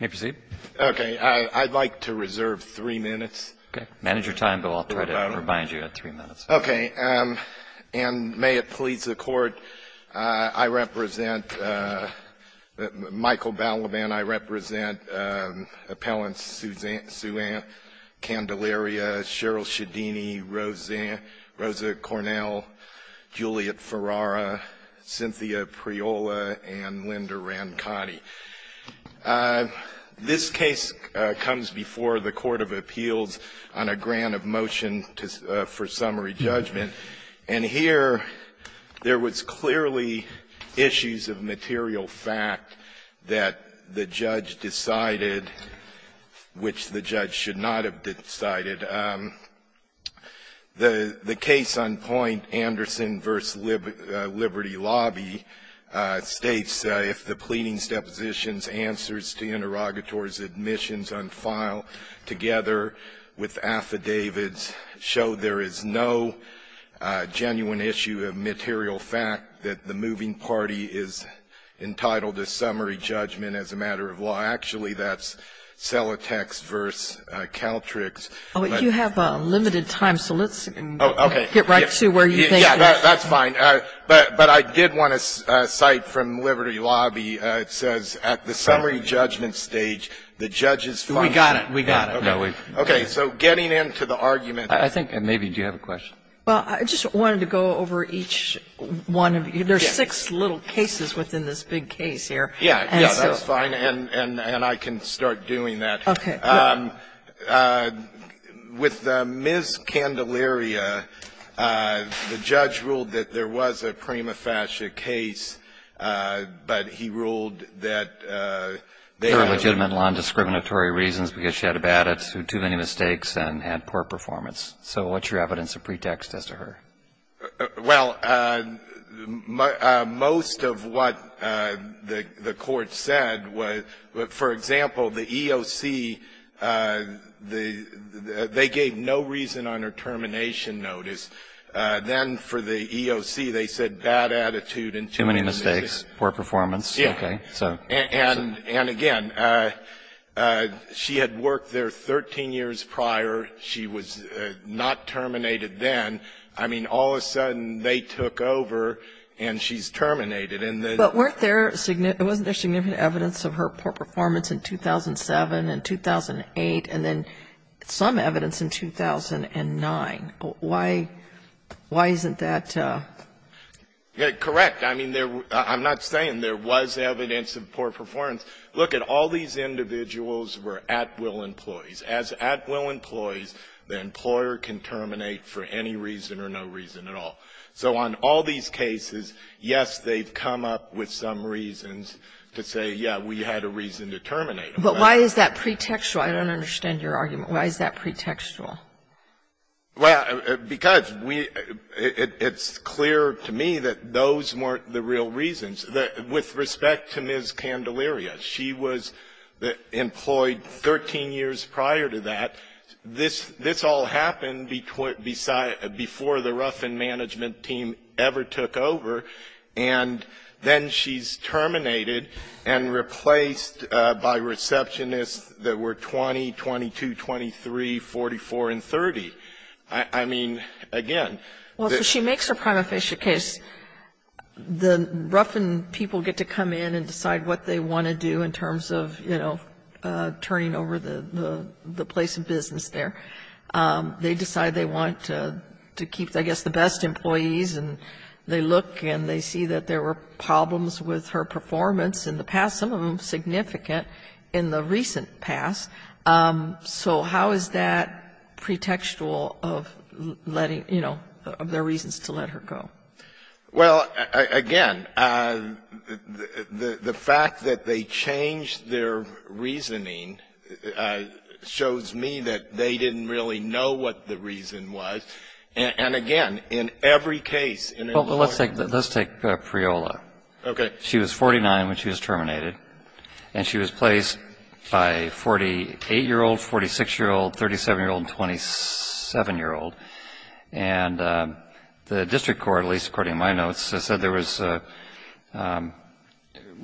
May I proceed? Okay. I'd like to reserve three minutes. Okay. Manage your time, Bill. I'll try to remind you at three minutes. Okay. And may it please the Court, I represent Michael Balaban. I represent Appellants Sueann Candelaria, Cheryl Shedini, Rosa Cornell, Juliet Ferrara, Cynthia Priola, and Linda Ranconi. This case comes before the Court of Appeals on a grant of motion for summary judgment. And here there was clearly issues of material fact that the judge decided, which the judge should not have decided. The case on point, Anderson v. Liberty Lobby, states if the pleadings, depositions, answers to interrogators' admissions on file together with affidavits show there is no genuine issue of material fact that the moving party is entitled to summary judgment as a matter of law. Actually, that's Celotex v. Caltriggs. You have limited time, so let's get right to where you think this is. That's fine. But I did want to cite from Liberty Lobby. It says at the summary judgment stage, the judge's function. We got it. We got it. Okay. So getting into the argument. I think, maybe, do you have a question? Well, I just wanted to go over each one of you. There are six little cases within this big case here. Yeah. That's fine. And I can start doing that. Okay. With Ms. Candelaria, the judge ruled that there was a prima facie case, but he ruled that they had a legitimate non-discriminatory reasons because she had a bad attitude, too many mistakes, and had poor performance. So what's your evidence of pretext as to her? Well, most of what the court said was, for example, the EOC, they gave no reason on her termination notice. Then for the EOC, they said bad attitude and too many mistakes. Too many mistakes, poor performance. Yeah. Okay. So. And, again, she had worked there 13 years prior. She was not terminated then. I mean, all of a sudden, they took over and she's terminated. But weren't there significant evidence of her poor performance in 2007 and 2008, and then some evidence in 2009? Why isn't that? Correct. I mean, I'm not saying there was evidence of poor performance. Look, all these individuals were at-will employees. As at-will employees, the employer can terminate for any reason or no reason at all. So on all these cases, yes, they've come up with some reasons to say, yeah, we had a reason to terminate her. But why is that pretextual? I don't understand your argument. Why is that pretextual? Well, because we – it's clear to me that those weren't the real reasons. With respect to Ms. Candelaria, she was employed 13 years prior to that. This all happened before the Ruffin management team ever took over, and then she's terminated and replaced by receptionists that were 20, 22, 23, 44, and 30. I mean, again. Well, so she makes her prima facie case. The Ruffin people get to come in and decide what they want to do in terms of, you know, turning over the place of business there. They decide they want to keep, I guess, the best employees, and they look and they see that there were problems with her performance in the past, some of them significant, in the recent past. So how is that pretextual of letting, you know, of their reasons to let her go? Well, again, the fact that they changed their reasoning shows me that they didn't really know what the reason was. And, again, in every case in employment law. Well, let's take Priola. Okay. She was 49 when she was terminated, and she was placed by a 48-year-old, 46-year-old, 37-year-old, and 27-year-old. And the district court, at least according to my notes, said there was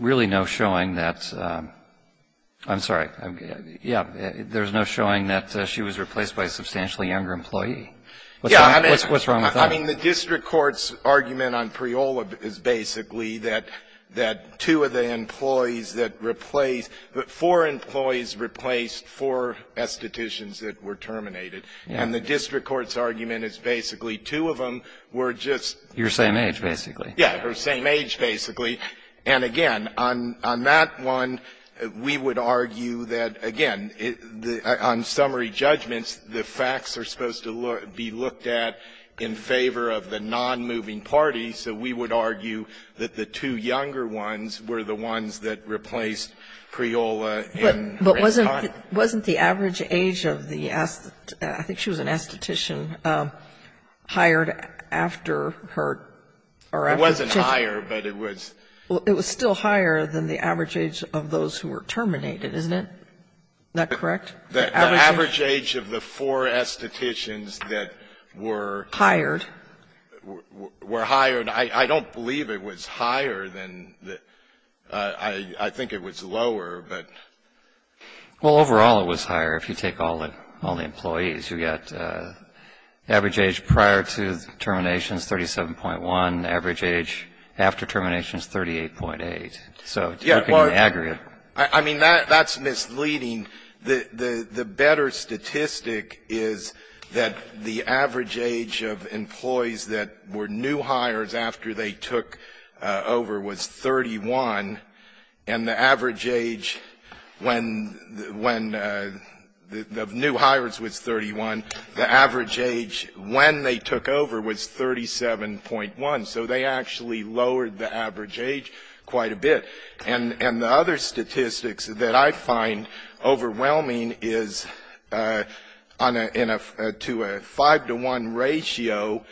really no showing that ‑‑ I'm sorry. Yeah. There was no showing that she was replaced by a substantially younger employee. What's wrong with that? I mean, the district court's argument on Priola is basically that two of the employees that replaced ‑‑ four employees replaced four estheticians that were terminated. And the district court's argument is basically two of them were just ‑‑ Your same age, basically. Yeah. Her same age, basically. And, again, on that one, we would argue that, again, on summary judgments, the facts are supposed to look ‑‑ be looked at in favor of the nonmoving parties, so we would argue that the two younger ones were the ones that replaced Priola in ‑‑ But wasn't the average age of the ‑‑ I think she was an esthetician, hired after her ‑‑ It wasn't higher, but it was ‑‑ It was still higher than the average age of those who were terminated, isn't it? Isn't that correct? The average age of the four estheticians that were ‑‑ Hired. Were hired. I don't believe it was higher than the ‑‑ I think it was lower, but ‑‑ Well, overall, it was higher. If you take all the employees, you get average age prior to termination is 37.1, average age after termination is 38.8. So looking at aggregate. I mean, that's misleading. The better statistic is that the average age of employees that were new hires after they took over was 31, and the average age when ‑‑ of new hires was 31. The average age when they took over was 37.1. So they actually lowered the average age quite a bit. And the other statistics that I find overwhelming is to a 5 to 1 ratio,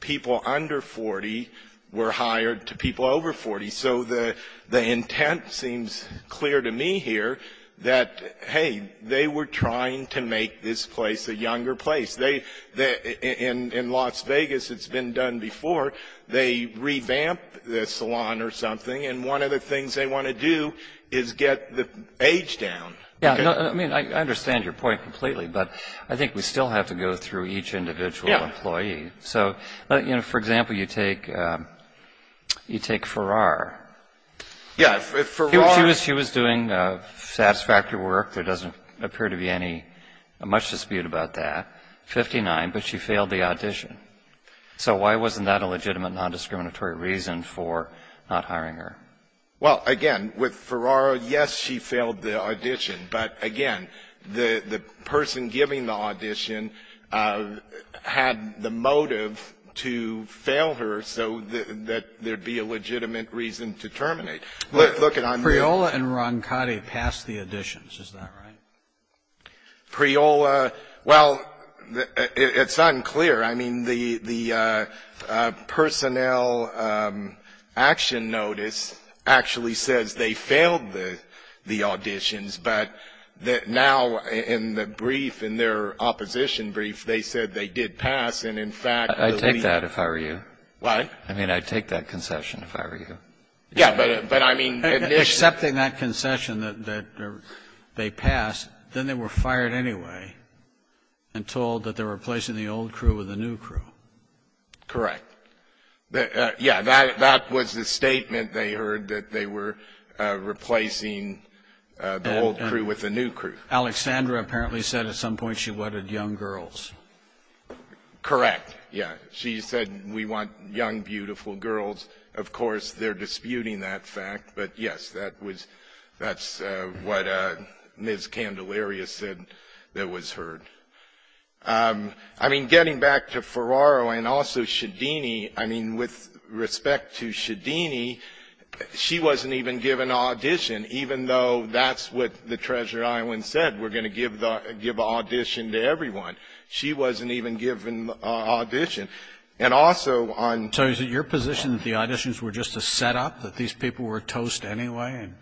people under 40 were hired to people over 40. So the intent seems clear to me here that, hey, they were trying to make this place a younger place. In Las Vegas, it's been done before. They revamp the salon or something, and one of the things they want to do is get the age down. Yeah. I mean, I understand your point completely, but I think we still have to go through each individual employee. Yeah. So, you know, for example, you take Ferrar. Yeah. Ferrar. She was doing satisfactory work. There doesn't appear to be any ‑‑ much dispute about that. 59, but she failed the audition. So why wasn't that a legitimate nondiscriminatory reason for not hiring her? Well, again, with Ferrar, yes, she failed the audition. But, again, the person giving the audition had the motive to fail her so that there would be a legitimate reason to terminate. Preola and Roncati passed the auditions. Is that right? Preola ‑‑ well, it's unclear. I mean, the personnel action notice actually says they failed the auditions, but now in the brief, in their opposition brief, they said they did pass, and in fact ‑‑ I'd take that if I were you. What? I mean, I'd take that concession if I were you. Yeah, but I mean ‑‑ Accepting that concession that they passed, then they were fired anyway and told that they were replacing the old crew with the new crew. Correct. Yeah, that was the statement they heard, that they were replacing the old crew with the new crew. Alexandra apparently said at some point she wanted young girls. Correct. Yeah. She said we want young, beautiful girls. Of course, they're disputing that fact, but yes, that was ‑‑ that's what Ms. Candelaria said that was heard. I mean, getting back to Ferraro and also Shedini, I mean, with respect to Shedini, she wasn't even given an audition, even though that's what the Treasure Island said, we're going to give the ‑‑ give an audition to everyone. She wasn't even given an audition. And also on ‑‑ So is it your position that the auditions were just a setup, that these people were toast anyway and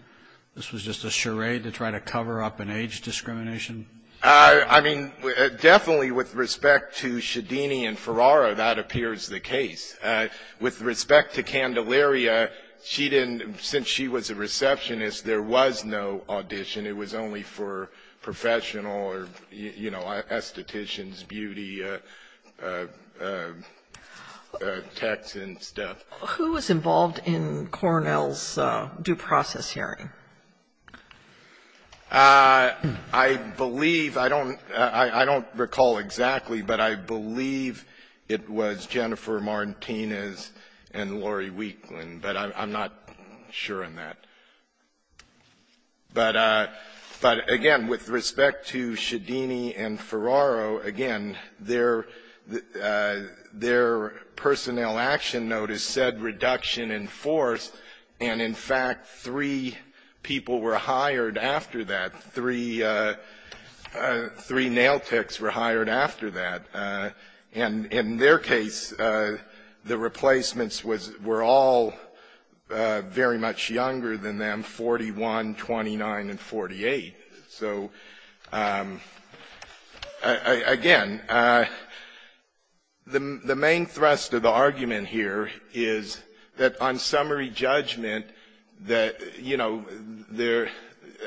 this was just a charade to try to cover up an age discrimination? I mean, definitely with respect to Shedini and Ferraro, that appears the case. With respect to Candelaria, she didn't ‑‑ since she was a receptionist, there was no text and stuff. Who was involved in Cornell's due process hearing? I believe ‑‑ I don't ‑‑ I don't recall exactly, but I believe it was Jennifer Martinez and Lori Weeklin, but I'm not sure on that. But again, with respect to Shedini and Ferraro, again, their personnel action notice said reduction in force, and in fact, three people were hired after that. Three nail techs were hired after that. And in their case, the replacements were all very much younger than them, 41 years old. So, again, the main thrust of the argument here is that on summary judgment, that, you know, there ‑‑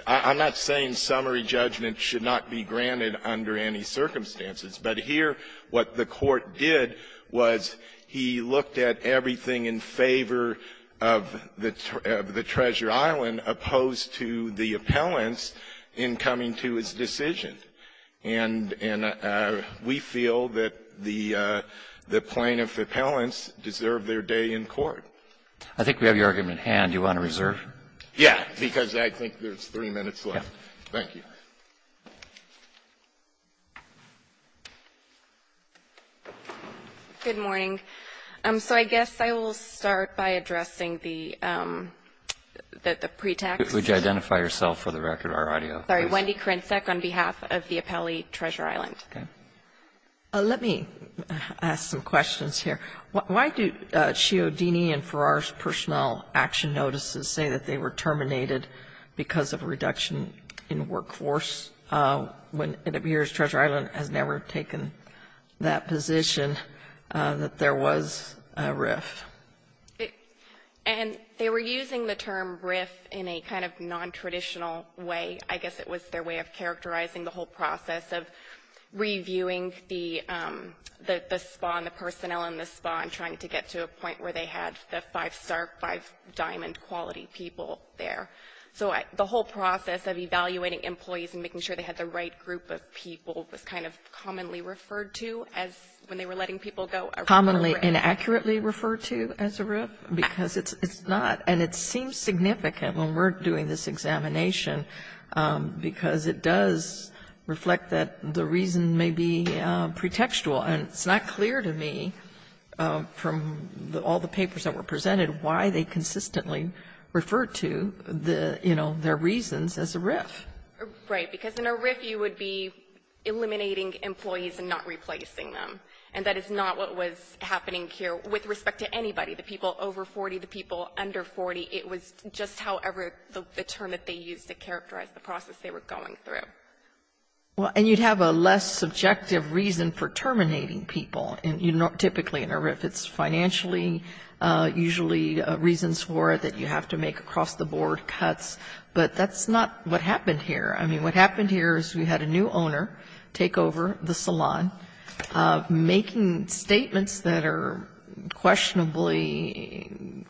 I'm not saying summary judgment should not be granted under any circumstances, but here what the court did was he looked at everything in favor of the Treasure Island opposed to the appellants in coming to his decision. And we feel that the plaintiff appellants deserve their day in court. I think we have your argument in hand. Do you want to reserve? Yeah, because I think there's three minutes left. Thank you. Good morning. So I guess I will start by addressing the pretext. Would you identify yourself for the record or audio? Sorry. Wendy Korenczak on behalf of the appellee, Treasure Island. Okay. Let me ask some questions here. Why do Chiodini and Farrar's personnel action notices say that they were terminated because of a reduction in workforce when it appears Treasure Island has never taken that position, that there was a RIF? And they were using the term RIF in a kind of nontraditional way. I guess it was their way of characterizing the whole process of reviewing the ‑‑ the spa and the personnel in the spa and trying to get to a point where they had the five star, five diamond quality people there. So the whole process of evaluating employees and making sure they had the right group of people was kind of commonly referred to as when they were letting people go. Commonly and accurately referred to as a RIF? Because it's not. And it seems significant when we're doing this examination, because it does reflect that the reason may be pretextual. And it's not clear to me from all the papers that were presented why they consistently refer to the, you know, their reasons as a RIF. Right. Because in a RIF you would be eliminating employees and not replacing them. And that is not what was happening here with respect to anybody. The people over 40, the people under 40, it was just however the term that they used to characterize the process they were going through. Right. And you'd have a less subjective reason for terminating people. Typically in a RIF it's financially, usually reasons for it that you have to make across the board cuts. But that's not what happened here. I mean, what happened here is we had a new owner take over the salon, making statements that are questionably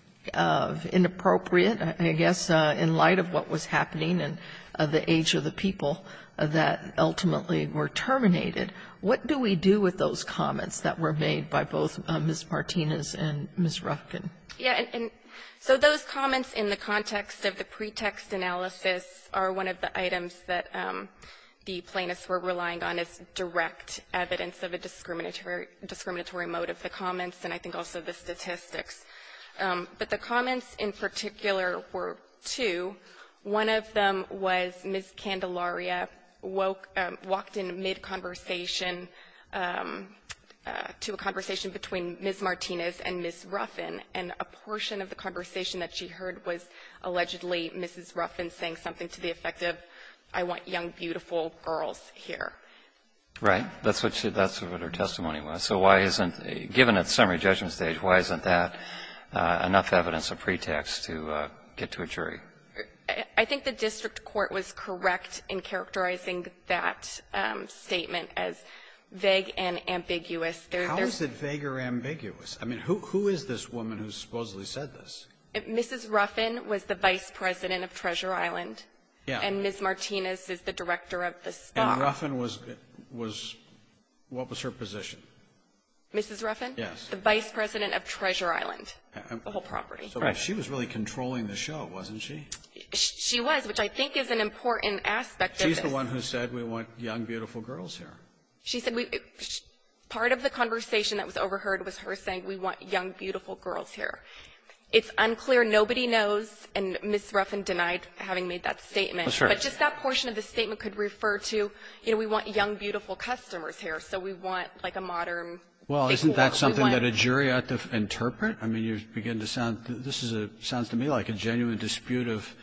inappropriate, I guess, in light of what was happening and the age of the people that ultimately were terminated. What do we do with those comments that were made by both Ms. Martinez and Ms. Rufkin? Yeah. And so those comments in the context of the pretext analysis are one of the items that the plaintiffs were relying on as direct evidence of a discriminatory mode of the comments, and I think also the statistics. But the comments in particular were two. One of them was Ms. Candelaria walked in mid-conversation to a conversation between Ms. Martinez and Ms. Ruffin, and a portion of the conversation that she heard was allegedly Mrs. Ruffin saying something to the effect of, I want young, beautiful girls here. Right. That's what her testimony was. So why isn't, given that summary judgment stage, why isn't that enough evidence as a pretext to get to a jury? I think the district court was correct in characterizing that statement as vague and ambiguous. How is it vague or ambiguous? I mean, who is this woman who supposedly said this? Mrs. Ruffin was the vice president of Treasure Island. Yeah. And Ms. Martinez is the director of the stock. And Ruffin was what was her position? Mrs. Ruffin? Yes. The vice president of Treasure Island, the whole property. Right. So she was really controlling the show, wasn't she? She was, which I think is an important aspect of this. She's the one who said, we want young, beautiful girls here. She said we, part of the conversation that was overheard was her saying, we want young, beautiful girls here. It's unclear, nobody knows, and Ms. Ruffin denied having made that statement. But just that portion of the statement could refer to, you know, we want young, beautiful customers here, so we want, like, a modern. Well, isn't that something that a jury ought to interpret? I mean, you begin to sound, this sounds to me like a genuine dispute of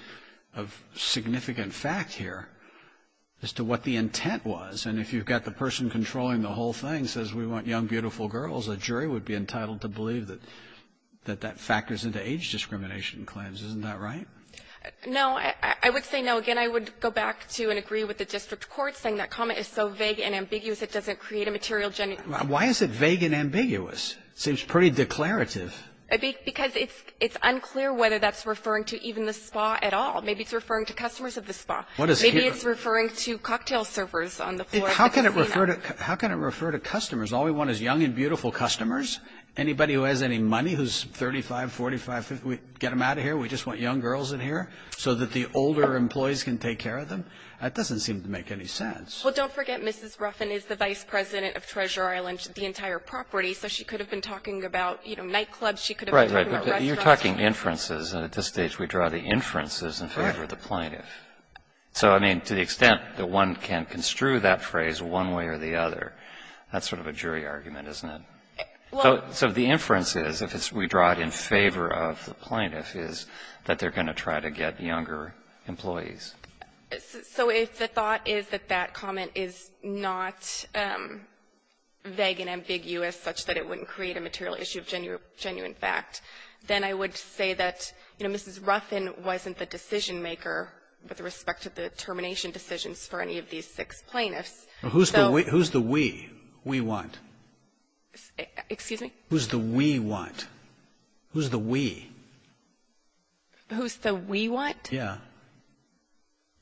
significant fact here as to what the intent was. And if you've got the person controlling the whole thing, says we want young, beautiful girls, a jury would be entitled to believe that that factors into age discrimination claims. Isn't that right? No. I would say no. Again, I would go back to and agree with the district court saying that comment is so vague and ambiguous it doesn't create a material genuine. Why is it vague and ambiguous? It seems pretty declarative. Because it's unclear whether that's referring to even the spa at all. Maybe it's referring to customers of the spa. Maybe it's referring to cocktail servers on the floor. How can it refer to customers? All we want is young and beautiful customers. Anybody who has any money who's 35, 45, 50, get them out of here. We just want young girls in here so that the older employees can take care of them. That doesn't seem to make any sense. Well, don't forget, Mrs. Ruffin is the vice president of Treasure Island, the entire property. So she could have been talking about, you know, nightclubs. She could have been talking about restaurants. Right, right. But you're talking inferences, and at this stage we draw the inferences in favor of the plaintiff. So, I mean, to the extent that one can construe that phrase one way or the other, that's sort of a jury argument, isn't it? So the inference is, if we draw it in favor of the plaintiff, is that they're going to try to get younger employees. So if the thought is that that comment is not vague and ambiguous such that it wouldn't create a material issue of genuine fact, then I would say that, you know, Mrs. Ruffin wasn't the decision-maker with respect to the termination decisions for any of these six plaintiffs. Who's the we? We what? Excuse me? Who's the we what? Who's the we? Who's the we what? Yeah.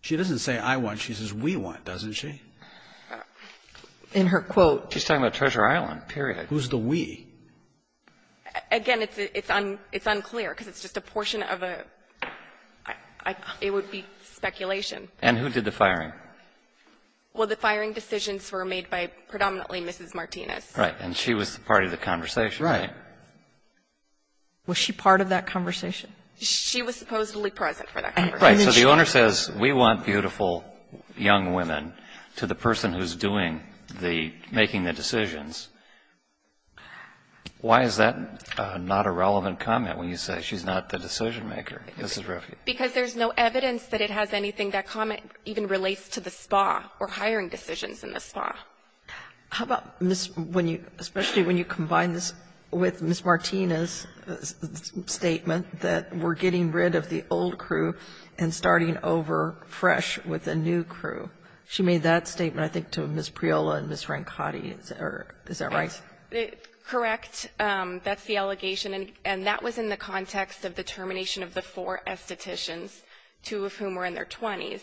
She doesn't say I want. She says we want, doesn't she? In her quote. She's talking about Treasure Island, period. Who's the we? Again, it's unclear because it's just a portion of a – it would be speculation. And who did the firing? Well, the firing decisions were made by predominantly Mrs. Martinez. Right. And she was part of the conversation. Right. Was she part of that conversation? She was supposedly present for that conversation. Right. So the owner says we want beautiful young women to the person who's doing the – making the decisions. Why is that not a relevant comment when you say she's not the decision-maker? Mrs. Ruffin. Because there's no evidence that it has anything that comment even relates to the spa or hiring decisions in the spa. How about when you – especially when you combine this with Mrs. Martinez's old crew and starting over fresh with a new crew? She made that statement, I think, to Ms. Priola and Ms. Rancotti. Is that right? Correct. That's the allegation. And that was in the context of the termination of the four estheticians, two of whom were in their 20s.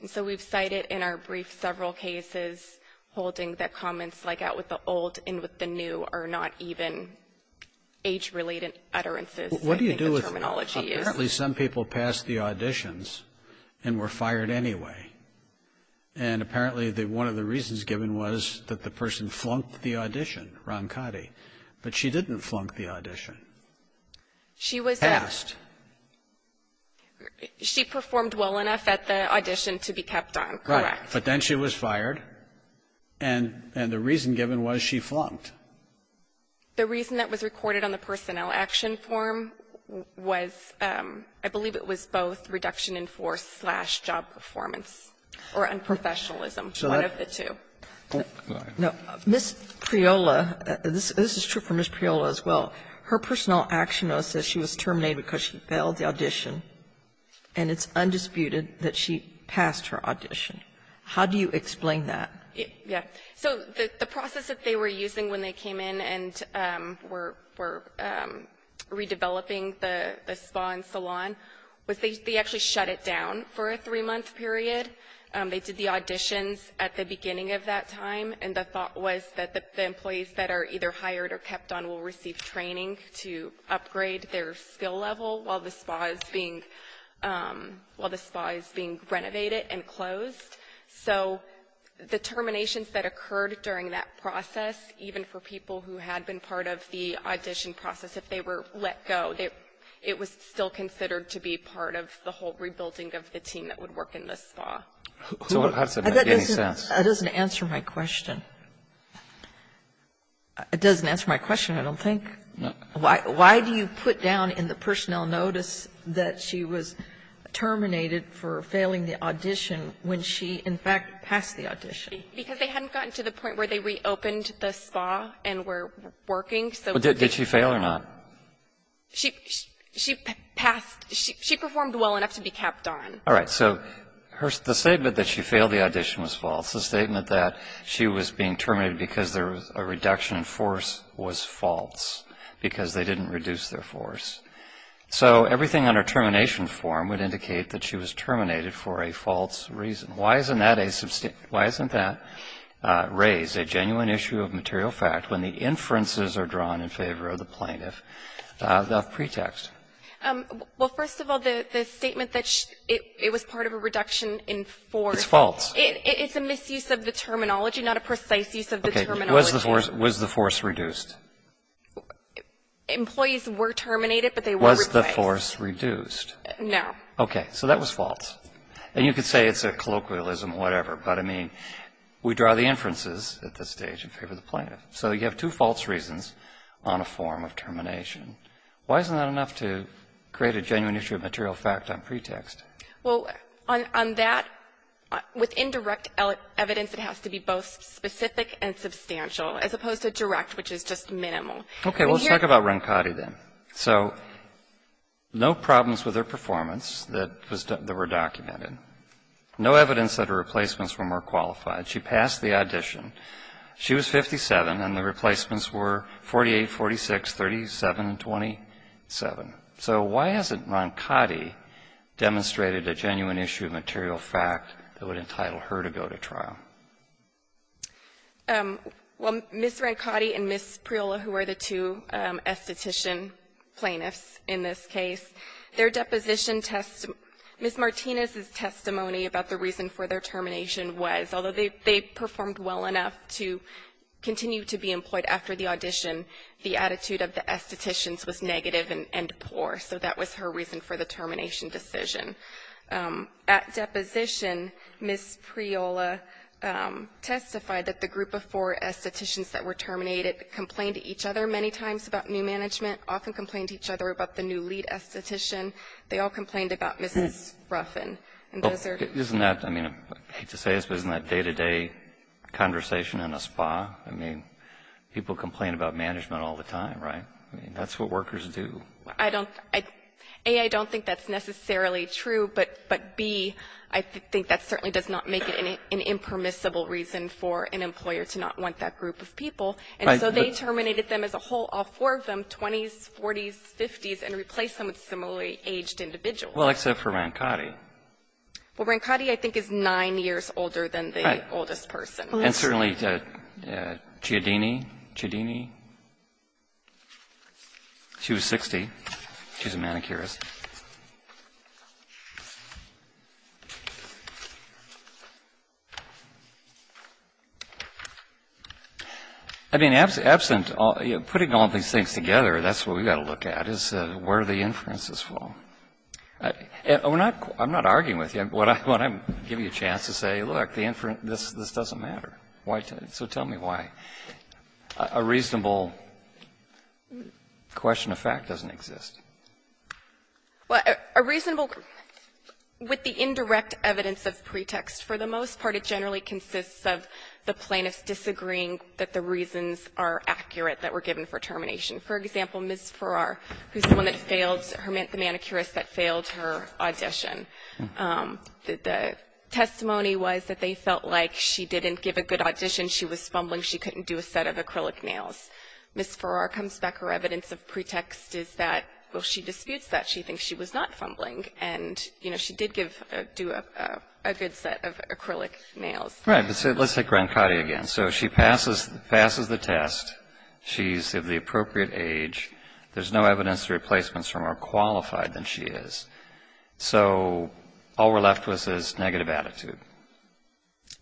And so we've cited in our brief several cases holding that comments like that with the old and with the new are not even age-related utterances. I think the terminology is. What do you do with – apparently some people passed the auditions and were fired anyway. And apparently one of the reasons given was that the person flunked the audition, Rancotti. But she didn't flunk the audition. She was – Passed. She performed well enough at the audition to be kept on, correct. Right. But then she was fired. And the reason given was she flunked. The reason that was recorded on the personnel action form was, I believe it was both reduction in force slash job performance or unprofessionalism, one of the two. Ms. Priola, this is true for Ms. Priola as well. Her personnel action note says she was terminated because she failed the audition, and it's undisputed that she passed her audition. How do you explain that? Yes. So the process that they were using when they came in and were redeveloping the spa and salon was they actually shut it down for a three-month period. They did the auditions at the beginning of that time, and the thought was that the employees that are either hired or kept on will receive training to upgrade their skill level while the spa is being renovated and closed. So the terminations that occurred during that process, even for people who had been part of the audition process, if they were let go, it was still considered to be part of the whole rebuilding of the team that would work in the spa. So it has to make any sense. That doesn't answer my question. It doesn't answer my question, I don't think. No. Why do you put down in the personnel notice that she was terminated for failing the audition when she, in fact, passed the audition? Because they hadn't gotten to the point where they reopened the spa and were working. Did she fail or not? She passed. She performed well enough to be kept on. All right. So the statement that she failed the audition was false. The statement that she was being terminated because there was a reduction in force was false because they didn't reduce their force. So everything on her termination form would indicate that she was terminated for a false reason. Why isn't that raised, a genuine issue of material fact, when the inferences are drawn in favor of the plaintiff of pretext? Well, first of all, the statement that it was part of a reduction in force. It's false. It's a misuse of the terminology, not a precise use of the terminology. Okay. Was the force reduced? Employees were terminated, but they were replaced. Was the force reduced? No. Okay. So that was false. And you could say it's a colloquialism or whatever, but, I mean, we draw the inferences at this stage in favor of the plaintiff. So you have two false reasons on a form of termination. Why isn't that enough to create a genuine issue of material fact on pretext? Well, on that, with indirect evidence, it has to be both specific and substantial, as opposed to direct, which is just minimal. Okay. Let's talk about Roncati then. So no problems with her performance that were documented. No evidence that her replacements were more qualified. She passed the audition. She was 57, and the replacements were 48, 46, 37, and 27. So why hasn't Roncati demonstrated a genuine issue of material fact that would entitle her to go to trial? Well, Ms. Roncati and Ms. Priola, who are the two esthetician plaintiffs in this case, their deposition test Ms. Martinez's testimony about the reason for their termination was, although they performed well enough to continue to be employed after the audition, the attitude of the estheticians was negative and poor. So that was her reason for the termination decision. At deposition, Ms. Priola testified that the group of four estheticians that were terminated complained to each other many times about new management, often complained to each other about the new lead esthetician. They all complained about Mrs. Ruffin. Isn't that, I mean, I hate to say this, but isn't that day-to-day conversation in a spa? I mean, people complain about management all the time, right? I mean, that's what workers do. I don't, A, I don't think that's necessarily true. But, B, I think that certainly does not make it an impermissible reason for an employer to not want that group of people. And so they terminated them as a whole, all four of them, 20s, 40s, 50s, and replaced them with similarly aged individuals. Well, except for Roncati. Well, Roncati, I think, is nine years older than the oldest person. And certainly Chiodini, Chiodini, she was 60. She's a manicurist. I mean, absent, putting all these things together, that's what we've got to look at, is where the inferences fall. And we're not, I'm not arguing with you. What I'm giving you a chance to say, look, the inference, this doesn't matter. So tell me why. A reasonable question of fact doesn't exist. Well, a reasonable, with the indirect evidence of pretext, for the most part it generally consists of the plaintiffs disagreeing that the reasons are accurate that were given for termination. For example, Ms. Farrar, who's the one that failed, the manicurist that failed her audition, the testimony was that they felt like she didn't give a good audition. She was fumbling. She couldn't do a set of acrylic nails. Ms. Farrar comes back. Her evidence of pretext is that, well, she disputes that. She thinks she was not fumbling. And, you know, she did do a good set of acrylic nails. Right. But let's take Roncati again. So she passes the test. She's of the appropriate age. There's no evidence of replacements from her qualified than she is. So all we're left with is negative attitude.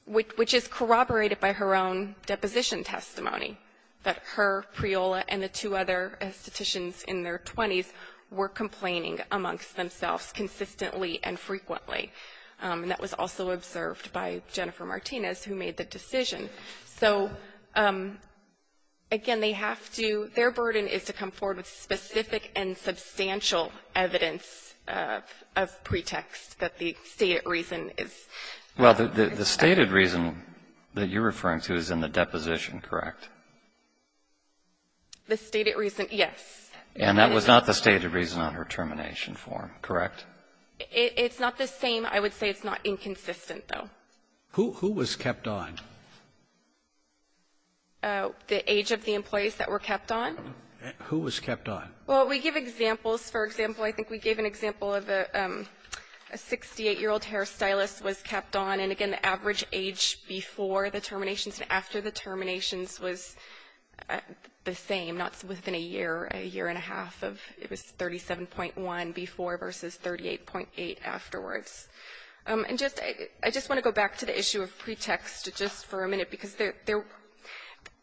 Which is corroborated by her own deposition testimony, that her, Priola, and the two other estheticians in their 20s were complaining amongst themselves consistently and frequently. And that was also observed by Jennifer Martinez, who made the decision. So, again, they have to ‑‑ their burden is to come forward with specific and substantial evidence of pretext that the stated reason is. Well, the stated reason that you're referring to is in the deposition, correct? The stated reason, yes. And that was not the stated reason on her termination form, correct? It's not the same. I would say it's not inconsistent, though. Who was kept on? The age of the employees that were kept on. Who was kept on? Well, we give examples. For example, I think we gave an example of a 68‑year‑old hairstylist was kept on. And, again, the average age before the terminations and after the terminations was the same, not within a year, a year and a half of ‑‑ it was 37.1 before versus 38.8 afterwards. And just ‑‑ I just want to go back to the issue of pretext just for a minute because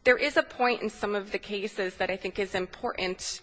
there is a point in some of the cases that I think is important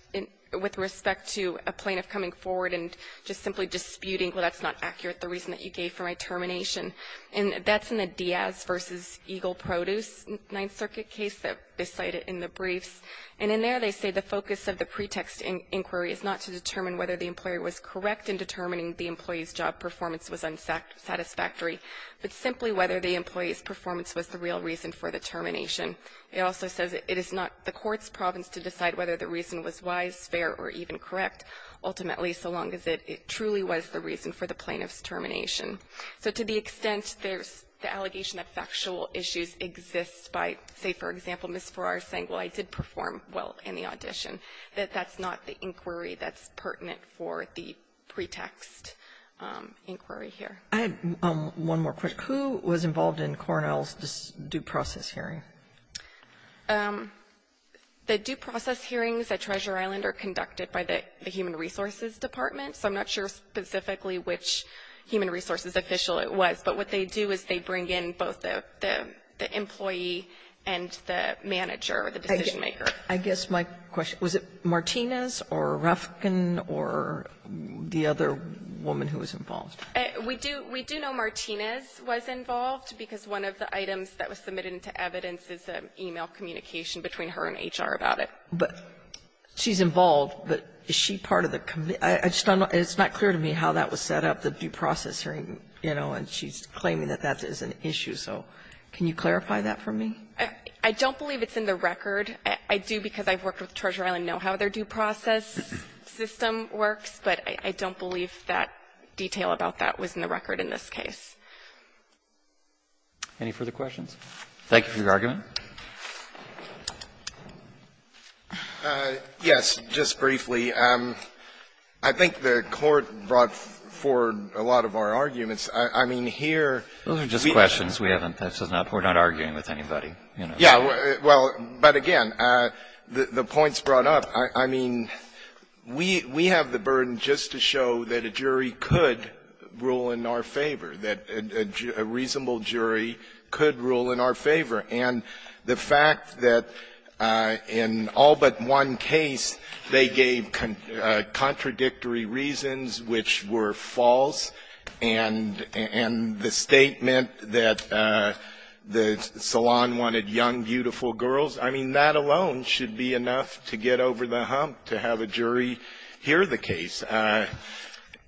with respect to a plaintiff coming forward and just simply disputing, well, that's not accurate, the reason that you gave for my termination. And that's in the Diaz versus Eagle Produce Ninth Circuit case that they cited in the briefs. And in there they say the focus of the pretext inquiry is not to determine whether the employer was correct in determining the employee's job performance was unsatisfactory, but simply whether the employee's performance was the real reason for the termination. It also says it is not the court's province to decide whether the reason was wise, fair, or even correct, ultimately, so long as it truly was the reason for the plaintiff's termination. So to the extent there's the allegation that factual issues exist by, say, for example, Ms. Farrar saying, well, I did perform well in the audition, that that's not the inquiry that's pertinent for the pretext inquiry here. Kagan. Kagan. One more quick. Who was involved in Cornell's due process hearing? The due process hearings at Treasure Island are conducted by the human resources department. So I'm not sure specifically which human resources official it was. But what they do is they bring in both the employee and the manager, the decision makers, and then they do the due process hearing. So I guess my question, was it Martinez or Rufkin or the other woman who was involved? We do know Martinez was involved, because one of the items that was submitted into evidence is an e-mail communication between her and HR about it. But she's involved, but is she part of the committee? It's not clear to me how that was set up, the due process hearing, you know, and she's So I don't know if that's what they do, because I've worked with Treasure Island and know how their due process system works, but I don't believe that detail about that was in the record in this case. Any further questions? Thank you for your argument. Yes. Just briefly. I think the Court brought forward a lot of our arguments. I mean, here we have a lot of arguments. Those are just questions. We haven't touched them up. We're not arguing with anybody. Yeah. Well, but again, the point's brought up. I mean, we have the burden just to show that a jury could rule in our favor, that a reasonable jury could rule in our favor. And the fact that in all but one case they gave contradictory reasons which were I mean, that alone should be enough to get over the hump to have a jury hear the case.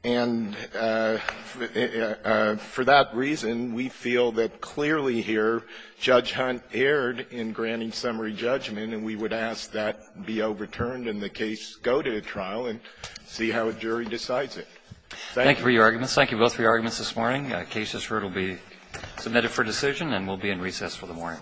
And for that reason, we feel that clearly here, Judge Hunt erred in granting summary judgment, and we would ask that be overturned and the case go to a trial and see how a jury decides it. Thank you. Thank you for your arguments. Thank you both for your arguments this morning. The case is heard. It will be submitted for decision and will be in recess for the morning.